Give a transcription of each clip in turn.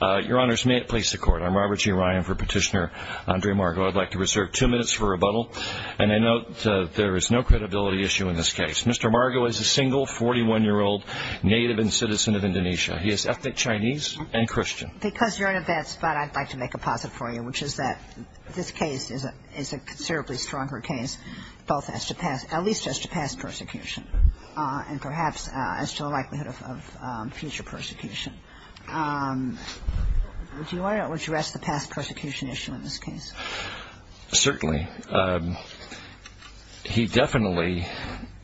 Your Honors, may it please the Court. I'm Robert G. Ryan for Petitioner Andre Margo. I'd like to reserve two minutes for rebuttal, and I note there is no credibility issue in this case. Mr. Margo is a single 41-year-old native and citizen of Indonesia. He is ethnic Chinese and Christian. Because you're in a bad spot, I'd like to make a posit for you, which is that this case is a considerably stronger case, at least as to past persecution, and perhaps as to the likelihood of future persecution. Do you want to address the past persecution issue in this case? Certainly. He definitely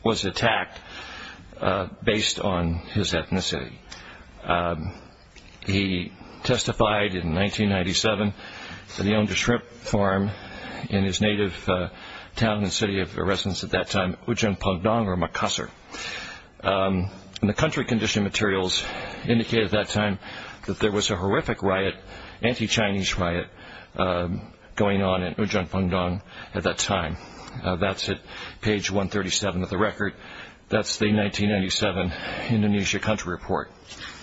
was attacked based on his ethnicity. He testified in 1997 that he owned a shrimp farm in his native town and city of residence at that time, Ujeng Pondong, or Makassar. The country condition materials indicated at that time that there was a horrific riot, anti-Chinese riot, going on in Ujeng Pondong at that time. That's at page 137 of the record. That's the 1997 Indonesia Country Report.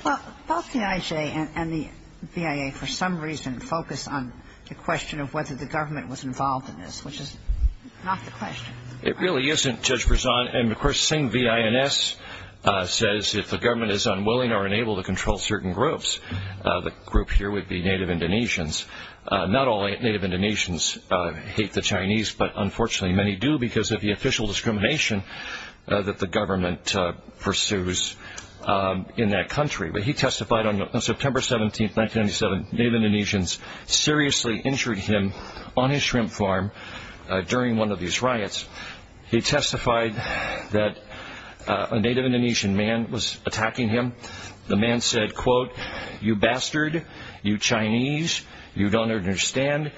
Well, both the IJ and the VIA, for some reason, focus on the question of whether the government was involved in this, which is not the question. It really isn't, Judge Berzon. And, of course, same VINS says if the government is unwilling or unable to control certain groups, the group here would be Native Indonesians. Not all Native Indonesians hate the Chinese, but, unfortunately, many do because of the official discrimination that the government pursues in that country. He testified on September 17, 1997, Native Indonesians seriously injured him on his shrimp farm during one of these riots. He testified that a Native Indonesian man was attacking him. The man said, quote, you bastard, you Chinese, you don't understand.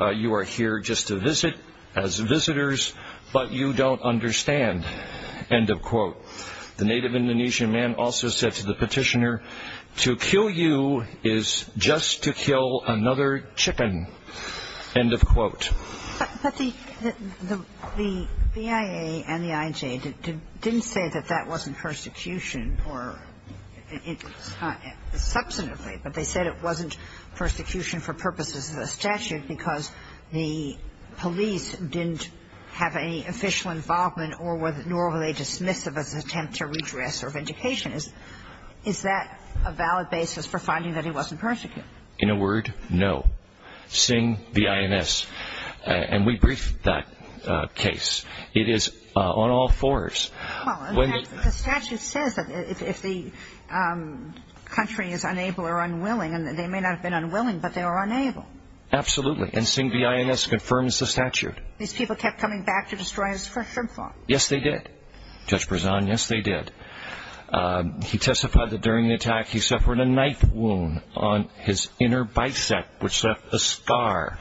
You are here just to visit as visitors, but you don't understand, end of quote. The Native Indonesian man also said to the petitioner, to kill you is just to kill another chicken, end of quote. But the VIA and the IJ didn't say that that wasn't persecution, or it's not substantively, but they said it wasn't persecution for purposes of the statute because the police didn't have any official involvement nor were they dismissive as an attempt to redress a vindication. Is that a valid basis for finding that he wasn't persecuted? In a word, no. Sing V.I.N.S., and we briefed that case. It is on all fours. The statute says that if the country is unable or unwilling, and they may not have been unwilling, but they were unable. Absolutely, and Sing V.I.N.S. confirms the statute. These people kept coming back to destroy his fresh shrimp farm. Yes, they did. Judge Berzon, yes, they did. He testified that during the attack, he suffered a knife wound on his inner bicep, which left a scar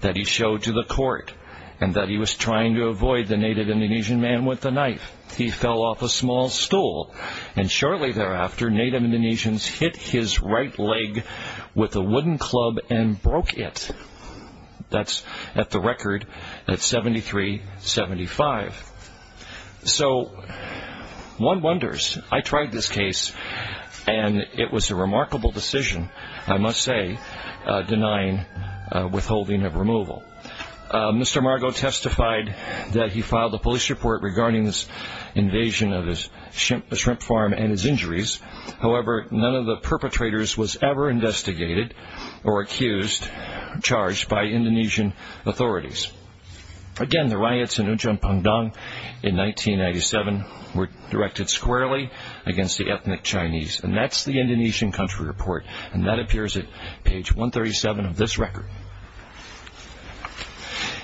that he showed to the court, and that he was trying to avoid the Native Indonesian man with the knife. He fell off a small stool, and shortly thereafter, Native Indonesians hit his right leg with a wooden club and broke it. That's at the record at 73-75. So, one wonders. I tried this case, and it was a remarkable decision, I must say, denying withholding of removal. Mr. Margo testified that he filed a police report regarding this invasion of his shrimp farm and his injuries. However, none of the perpetrators was ever investigated or accused, charged by Indonesian authorities. Again, the riots in Ujum Pungdong in 1997 were directed squarely against the ethnic Chinese, and that's the Indonesian country report, and that appears at page 137 of this record.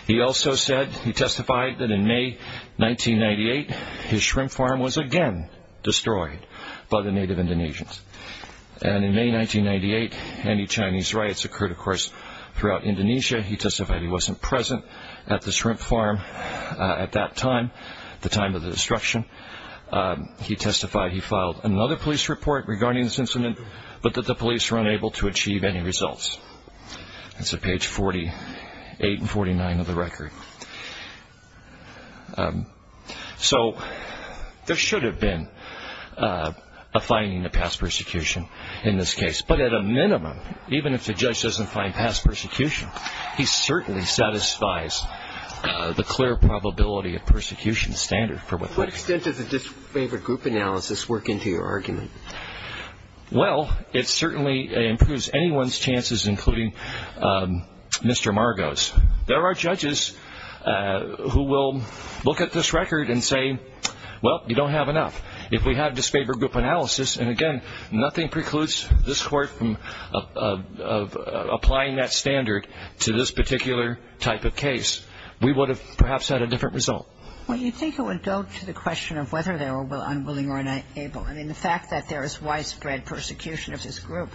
He also said, he testified that in May 1998, his shrimp farm was again destroyed by the Native Indonesians. And in May 1998, anti-Chinese riots occurred, of course, throughout Indonesia. He testified he wasn't present at the shrimp farm at that time, the time of the destruction. He testified he filed another police report regarding this incident, but that the police were unable to achieve any results. That's at page 48 and 49 of the record. So, there should have been a finding of past persecution in this case. But at a minimum, even if the judge doesn't find past persecution, he certainly satisfies the clear probability of persecution standard for withholding. What extent does a disfavored group analysis work into your argument? Well, it certainly improves anyone's chances, including Mr. Margo's. There are judges who will look at this record and say, well, you don't have enough. If we had a disfavored group analysis, and again, nothing precludes this court from applying that standard to this particular type of case, we would have perhaps had a different result. Well, you'd think it would go to the question of whether they were unwilling or unable. I mean, the fact that there is widespread persecution of this group,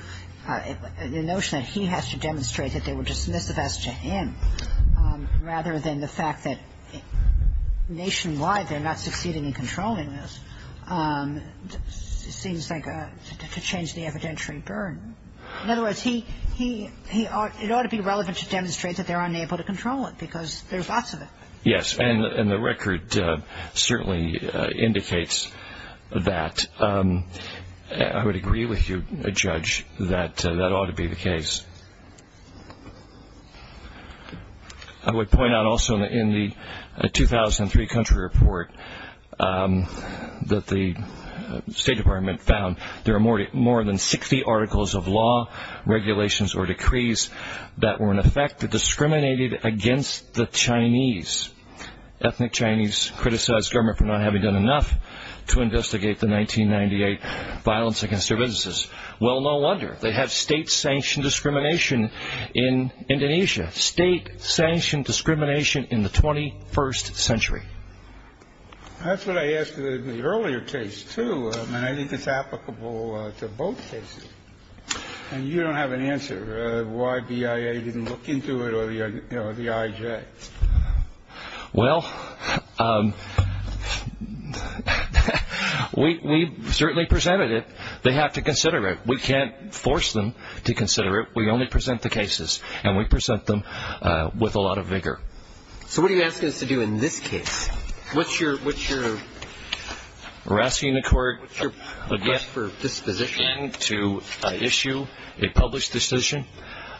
the notion that he has to demonstrate that they were dismissive as to him, rather than the fact that nationwide they're not succeeding in controlling this, seems like to change the evidentiary burden. In other words, it ought to be relevant to demonstrate that they're unable to control it, because there's lots of it. I would agree with you, Judge, that that ought to be the case. I would point out also in the 2003 country report that the State Department found there are more than 60 articles of law, regulations, or decrees that were in effect that discriminated against the Chinese. Ethnic Chinese criticized government for not having done enough to investigate the 1998 violence against their businesses. Well, no wonder. They have state-sanctioned discrimination in Indonesia, state-sanctioned discrimination in the 21st century. That's what I asked in the earlier case, too, and I think it's applicable to both cases. And you don't have an answer as to why BIA didn't look into it or the IJ. Well, we certainly presented it. They have to consider it. We can't force them to consider it. We only present the cases, and we present them with a lot of vigor. So what are you asking us to do in this case? We're asking the court again to issue a published decision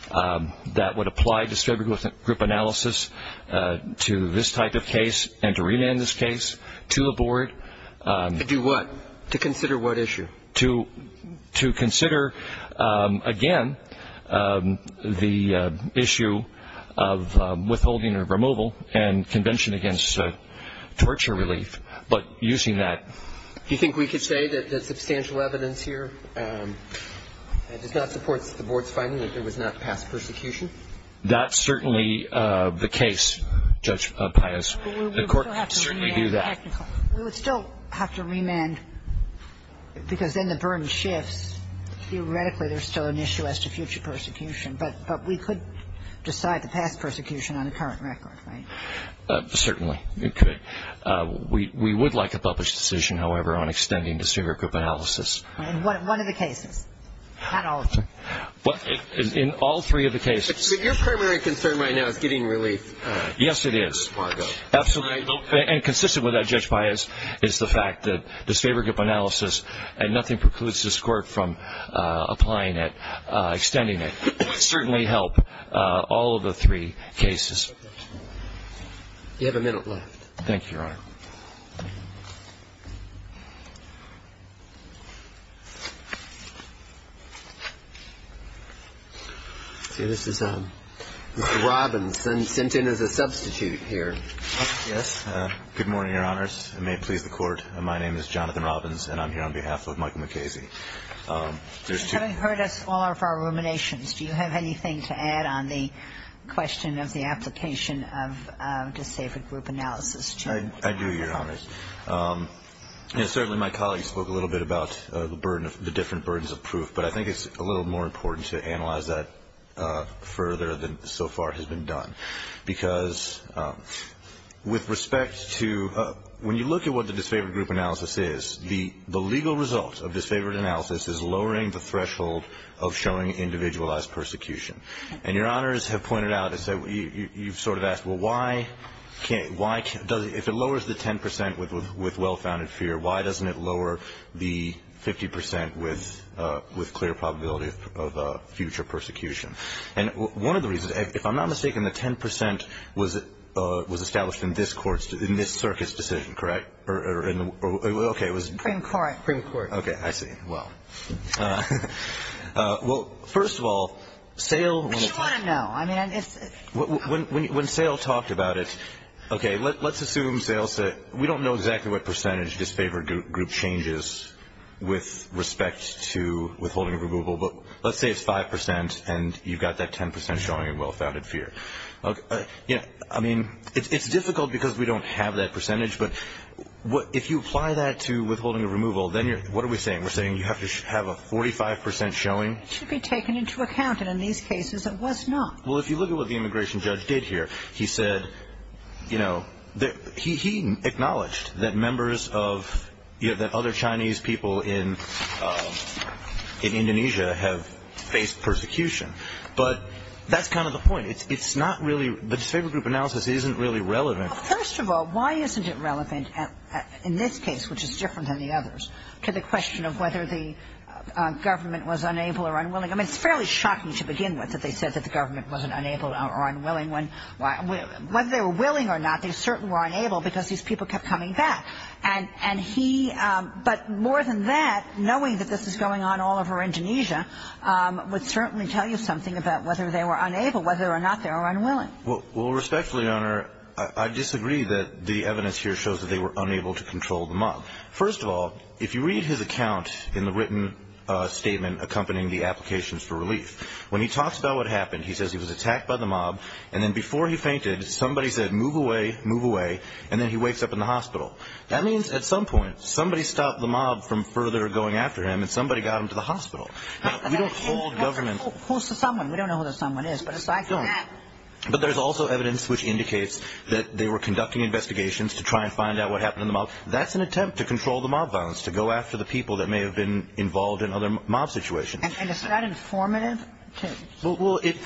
that would apply distributed group analysis to this type of case and to remand this case to the board. To do what? To consider what issue? To consider, again, the issue of withholding or removal and convention against torture relief, but using that. Do you think we could say that the substantial evidence here does not support the board's finding that there was not past persecution? That's certainly the case, Judge Pius. The court can certainly do that. We would still have to remand because then the burden shifts. Theoretically, there's still an issue as to future persecution, but we could decide the past persecution on a current record, right? Certainly, you could. We would like a published decision, however, on extending distributed group analysis. One of the cases, not all of them. In all three of the cases. But your primary concern right now is getting relief. Yes, it is. Margot. Absolutely. And consistent with that, Judge Pius, is the fact that this favor group analysis, and nothing precludes this court from applying it, extending it, would certainly help all of the three cases. You have a minute left. Thank you, Your Honor. See, this is Mr. Robbins, sent in as a substitute here. Yes. Good morning, Your Honors. It may please the court. My name is Jonathan Robbins, and I'm here on behalf of Michael MacKenzie. There's two. Having heard us all of our ruminations, do you have anything to add on the question of the application of disabled group analysis? I do, Your Honor. And certainly my colleagues spoke a little bit about the different burdens of proof, but I think it's a little more important to analyze that further than so far has been done. Because with respect to when you look at what the disfavored group analysis is, the legal result of disfavored analysis is lowering the threshold of showing individualized persecution. And Your Honors have pointed out, you've sort of asked, well, if it lowers the 10 percent with well-founded fear, why doesn't it lower the 50 percent with clear probability of future persecution? And one of the reasons, if I'm not mistaken, the 10 percent was established in this circuit's decision, correct? Okay, it was? In court. In court. Okay, I see. Well, first of all, SAIL- But you want to know. I mean, it's- When SAIL talked about it, okay, let's assume SAIL said, we don't know exactly what percentage disfavored group changes with respect to withholding of removal, but let's say it's 5 percent and you've got that 10 percent showing in well-founded fear. I mean, it's difficult because we don't have that percentage, but if you apply that to withholding of removal, then what are we saying? We're saying you have to have a 45 percent showing? It should be taken into account, and in these cases, it was not. Well, if you look at what the immigration judge did here, he said, you know, he acknowledged that members of- that other Chinese people in Indonesia have faced persecution. But that's kind of the point. It's not really- the disfavored group analysis isn't really relevant. First of all, why isn't it relevant in this case, which is different than the others, to the question of whether the government was unable or unwilling? I mean, it's fairly shocking to begin with that they said that the government wasn't unable or unwilling. Whether they were willing or not, they certainly were unable because these people kept coming back. And he- but more than that, knowing that this is going on all over Indonesia would certainly tell you something about whether they were unable, whether or not they were unwilling. Well, respectfully, Your Honor, I disagree that the evidence here shows that they were unable to control the mob. First of all, if you read his account in the written statement accompanying the applications for relief, when he talks about what happened, he says he was attacked by the mob, and then before he fainted, somebody said, move away, move away, and then he wakes up in the hospital. That means at some point, somebody stopped the mob from further going after him, and somebody got him to the hospital. We don't call government- Who's the someone? We don't know who the someone is, but it's like- We don't. But there's also evidence which indicates that they were conducting investigations to try and find out what happened to the mob. That's an attempt to control the mob violence, to go after the people that may have been involved in other mob situations. And it's not informative to- Well, it-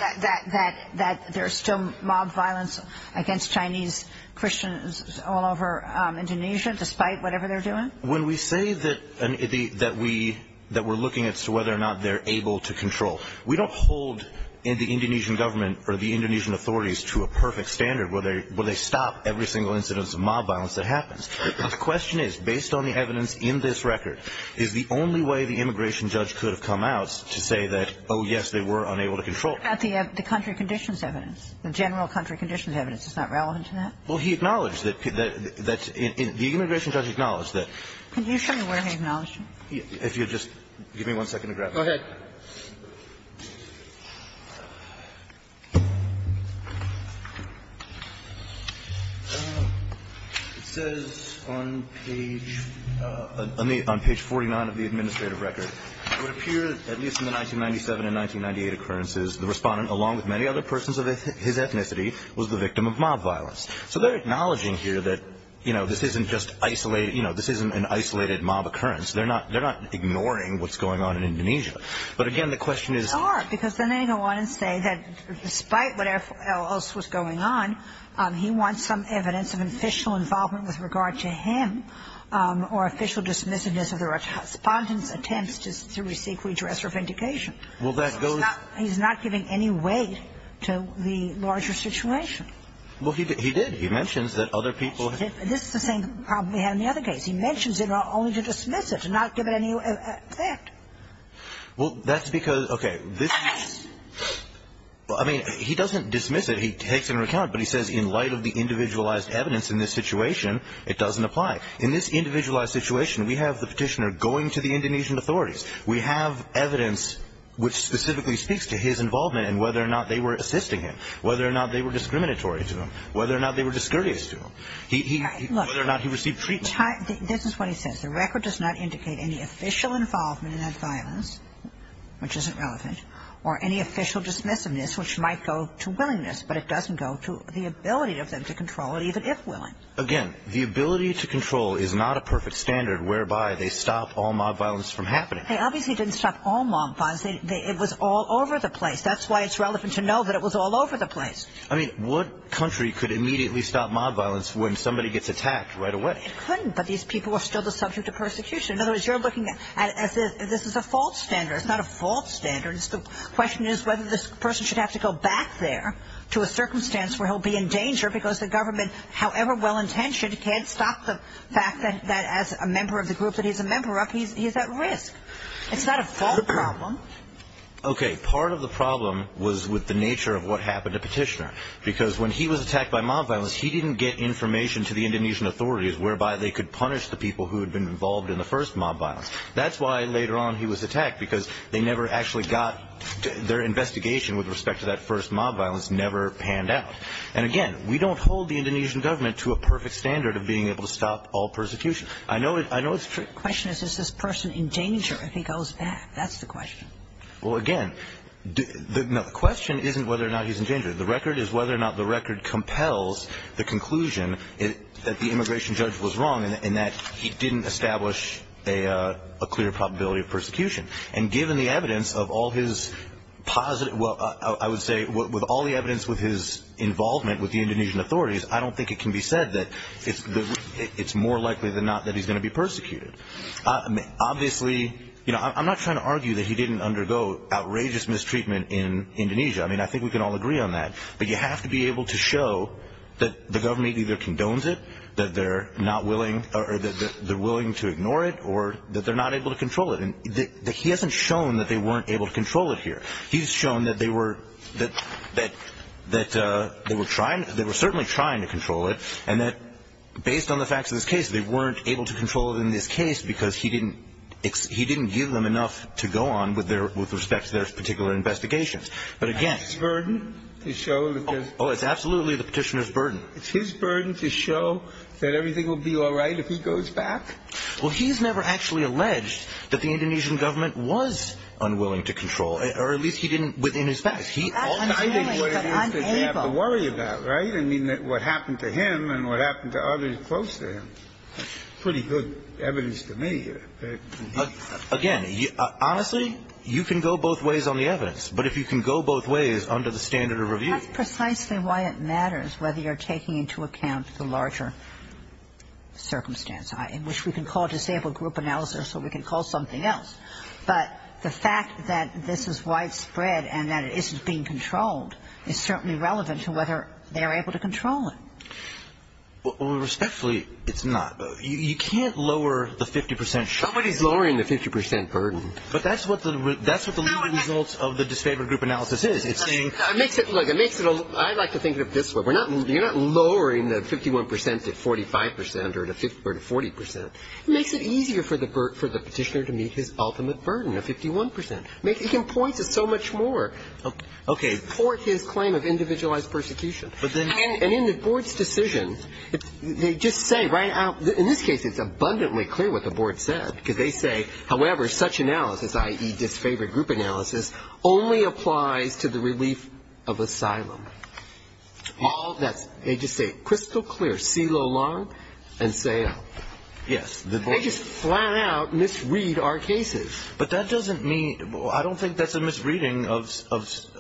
That there's still mob violence against Chinese Christians all over Indonesia, despite whatever they're doing? When we say that we're looking as to whether or not they're able to control, we don't hold the Indonesian government or the Indonesian authorities to a perfect standard where they stop every single incidence of mob violence that happens. The question is, based on the evidence in this record, is the only way the immigration judge could have come out to say that, oh, yes, they were unable to control? But the country conditions evidence, the general country conditions evidence is not relevant to that? Well, he acknowledged that the immigration judge acknowledged that- Can you show me where he acknowledged it? If you'll just give me one second to grab that. Go ahead. It says on page 49 of the administrative record, it would appear that at least in the 1997 and 1998 occurrences, the respondent, along with many other persons of his ethnicity, was the victim of mob violence. So they're acknowledging here that, you know, this isn't just isolated, you know, this isn't an isolated mob occurrence. They're not ignoring what's going on in Indonesia. But, again, the question is- They are, because then they go on and say that despite what else was going on, he wants some evidence of official involvement with regard to him or official dismissiveness of the respondent's attempts to receive redress or vindication. Well, that goes- He's not giving any weight to the larger situation. Well, he did. He mentions that other people- This is the same problem we had in the other case. He mentions it only to dismiss it, to not give it any effect. Well, that's because- Okay. I mean, he doesn't dismiss it. He takes it into account, but he says in light of the individualized evidence in this situation, it doesn't apply. In this individualized situation, we have the Petitioner going to the Indonesian authorities. We have evidence which specifically speaks to his involvement and whether or not they were assisting him, whether or not they were discriminatory to him, whether or not they were discourteous to him, whether or not he received treatment. This is what he says. The record does not indicate any official involvement in that violence, which isn't relevant, or any official dismissiveness, which might go to willingness, but it doesn't go to the ability of them to control it, even if willing. Again, the ability to control is not a perfect standard whereby they stop all mob violence from happening. They obviously didn't stop all mob violence. It was all over the place. That's why it's relevant to know that it was all over the place. I mean, what country could immediately stop mob violence when somebody gets attacked right away? It couldn't, but these people are still the subject of persecution. In other words, you're looking at it as if this is a false standard. It's not a false standard. The question is whether this person should have to go back there to a circumstance where he'll be in danger because the government, however well-intentioned, can't stop the fact that as a member of the group that he's a member of, he's at risk. It's not a false problem. Okay, part of the problem was with the nature of what happened to Petitioner because when he was attacked by mob violence, he didn't get information to the Indonesian authorities whereby they could punish the people who had been involved in the first mob violence. That's why later on he was attacked because they never actually got their investigation with respect to that first mob violence never panned out. And again, we don't hold the Indonesian government to a perfect standard of being able to stop all persecution. I know it's true. The question is, is this person in danger if he goes back? That's the question. The record is whether or not the record compels the conclusion that the immigration judge was wrong and that he didn't establish a clear probability of persecution. And given the evidence of all his positive, well, I would say with all the evidence with his involvement with the Indonesian authorities, I don't think it can be said that it's more likely than not that he's going to be persecuted. Obviously, you know, I'm not trying to argue that he didn't undergo outrageous mistreatment in Indonesia. I mean, I think we can all agree on that. But you have to be able to show that the government either condones it, that they're willing to ignore it, or that they're not able to control it. He hasn't shown that they weren't able to control it here. He's shown that they were certainly trying to control it, and that based on the facts of this case, they weren't able to control it in this case because he didn't give them enough to go on with respect to their particular investigations. But again... It's his burden to show that there's... Oh, it's absolutely the petitioner's burden. It's his burden to show that everything will be all right if he goes back? Well, he's never actually alleged that the Indonesian government was unwilling to control it, or at least he didn't within his facts. That's unwilling, but unable. I mean, what happened to him and what happened to others close to him. Pretty good evidence to me. Again, honestly, you can go both ways on the evidence. But if you can go both ways under the standard of review... That's precisely why it matters whether you're taking into account the larger circumstance, which we can call a disabled group analysis, or we can call something else. But the fact that this is widespread and that it isn't being controlled is certainly relevant to whether they're able to control it. Respectfully, it's not. You can't lower the 50%... Somebody's lowering the 50% burden. But that's what the result of the disabled group analysis is. Look, I like to think of it this way. You're not lowering the 51% to 45% or to 40%. It makes it easier for the petitioner to meet his ultimate burden of 51%. He can point to so much more. Okay. Support his claim of individualized persecution. And in the board's decision, they just say right out... In this case, it's abundantly clear what the board said, because they say, however, such analysis, i.e., disfavored group analysis, only applies to the relief of asylum. All that's... They just say crystal clear, see Lo Long and Sayal. Yes. They just flat out misread our cases. But that doesn't mean... I don't think that's a misreading of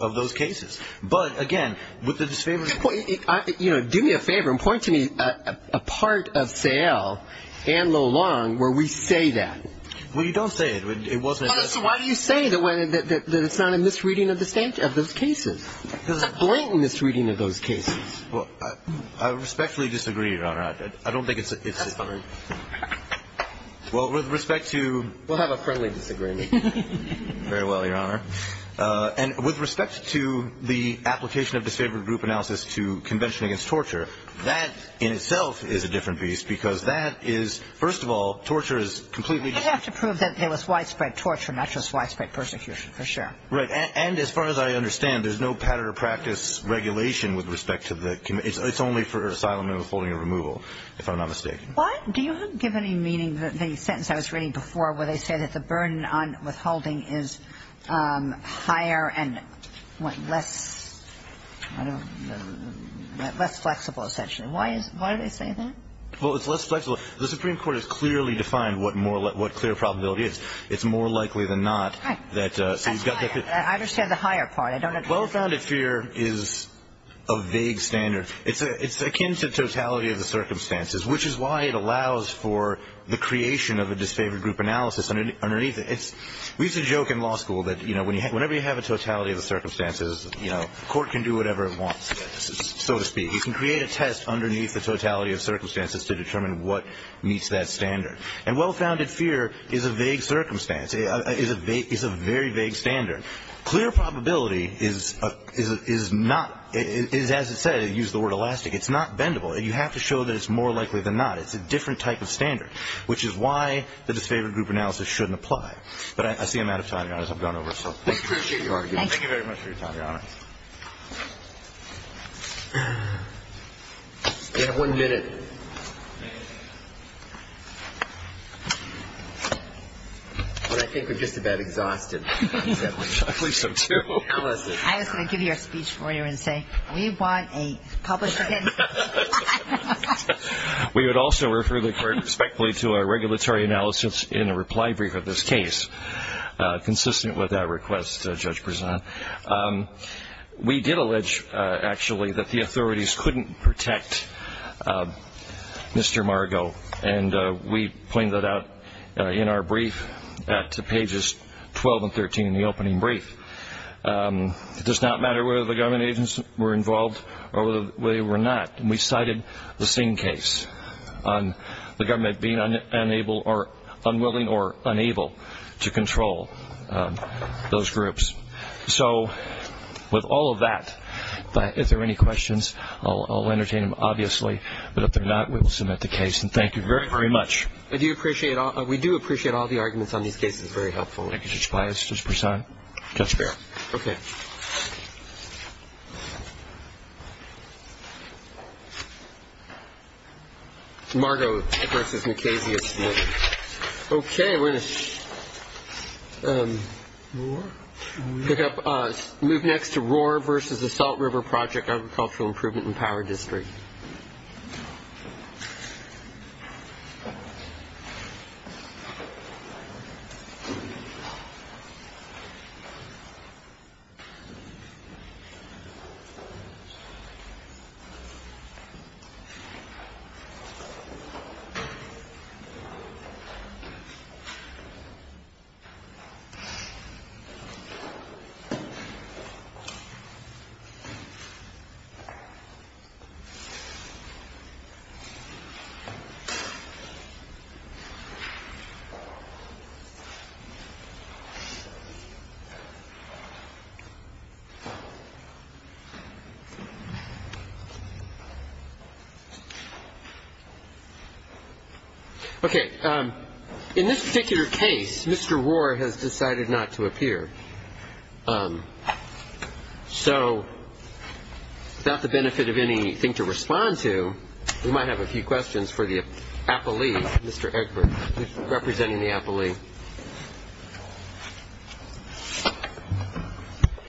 those cases. But again, with the disfavored... Do me a favor and point to me a part of Sayal and Lo Long where we say that. Well, you don't say it. It wasn't... Why do you say that it's not a misreading of those cases? It's a blatant misreading of those cases. I respectfully disagree, Your Honor. I don't think it's... That's fine. Well, with respect to... We'll have a friendly disagreement. Very well, Your Honor. And with respect to the application of disfavored group analysis to Convention Against Torture, that in itself is a different beast, because that is, first of all, torture is completely... You'd have to prove that there was widespread torture, not just widespread persecution, for sure. Right. And as far as I understand, there's no pattern or practice regulation with respect to the... It's only for asylum and withholding or removal, if I'm not mistaken. Do you give any meaning to the sentence I was reading before where they say that the burden on withholding is higher and less... I don't... Less flexible, essentially. Why do they say that? Well, it's less flexible. The Supreme Court has clearly defined what clear probability is. It's more likely than not that... Right. I understand the higher part. I don't... Well-founded fear is a vague standard. It's akin to totality of the circumstances, which is why it allows for the creation of a disfavored group analysis underneath it. We used to joke in law school that whenever you have a totality of the circumstances, the court can do whatever it wants, so to speak. He can create a test underneath the totality of circumstances to determine what meets that standard. And well-founded fear is a vague circumstance. It's a very vague standard. Clear probability is not... As I said, I used the word elastic. It's not bendable. You have to show that it's more likely than not. It's a different type of standard, which is why the disfavored group analysis shouldn't apply. But I see I'm out of time, Your Honor, so I've gone over. I appreciate your argument. Thank you very much for your time, Your Honor. You have one minute. I think we're just about exhausted. I believe so, too. I was going to give you a speech for you and say, we want a published opinion. We would also refer the court respectfully to our regulatory analysis in a reply brief of this case, consistent with that request, Judge Prezant. We did allege, actually, that the authorities couldn't protect Mr. Margo. And we pointed that out in our brief at pages 12 and 13 in the opening brief. It does not matter whether the government agents were involved or whether they were not. And we cited the same case on the government being unwilling or unable to control those groups. So, with all of that, if there are any questions, I'll entertain them, obviously. But if there are not, we will submit the case. And thank you very, very much. We do appreciate all the arguments on these cases. Very helpful. Thank you, Judge Bias. Judge Prezant. Judge Barrett. Okay. Margo v. Macias. Okay. We're going to pick up, move next to Roar v. The Salt River Project Agricultural Improvement and Power District. Okay. In this particular case, Mr. Roar has decided not to appear. So, without the benefit of anything to respond to, we might have a few questions for the appellee, Mr. Egbert, representing the appellee.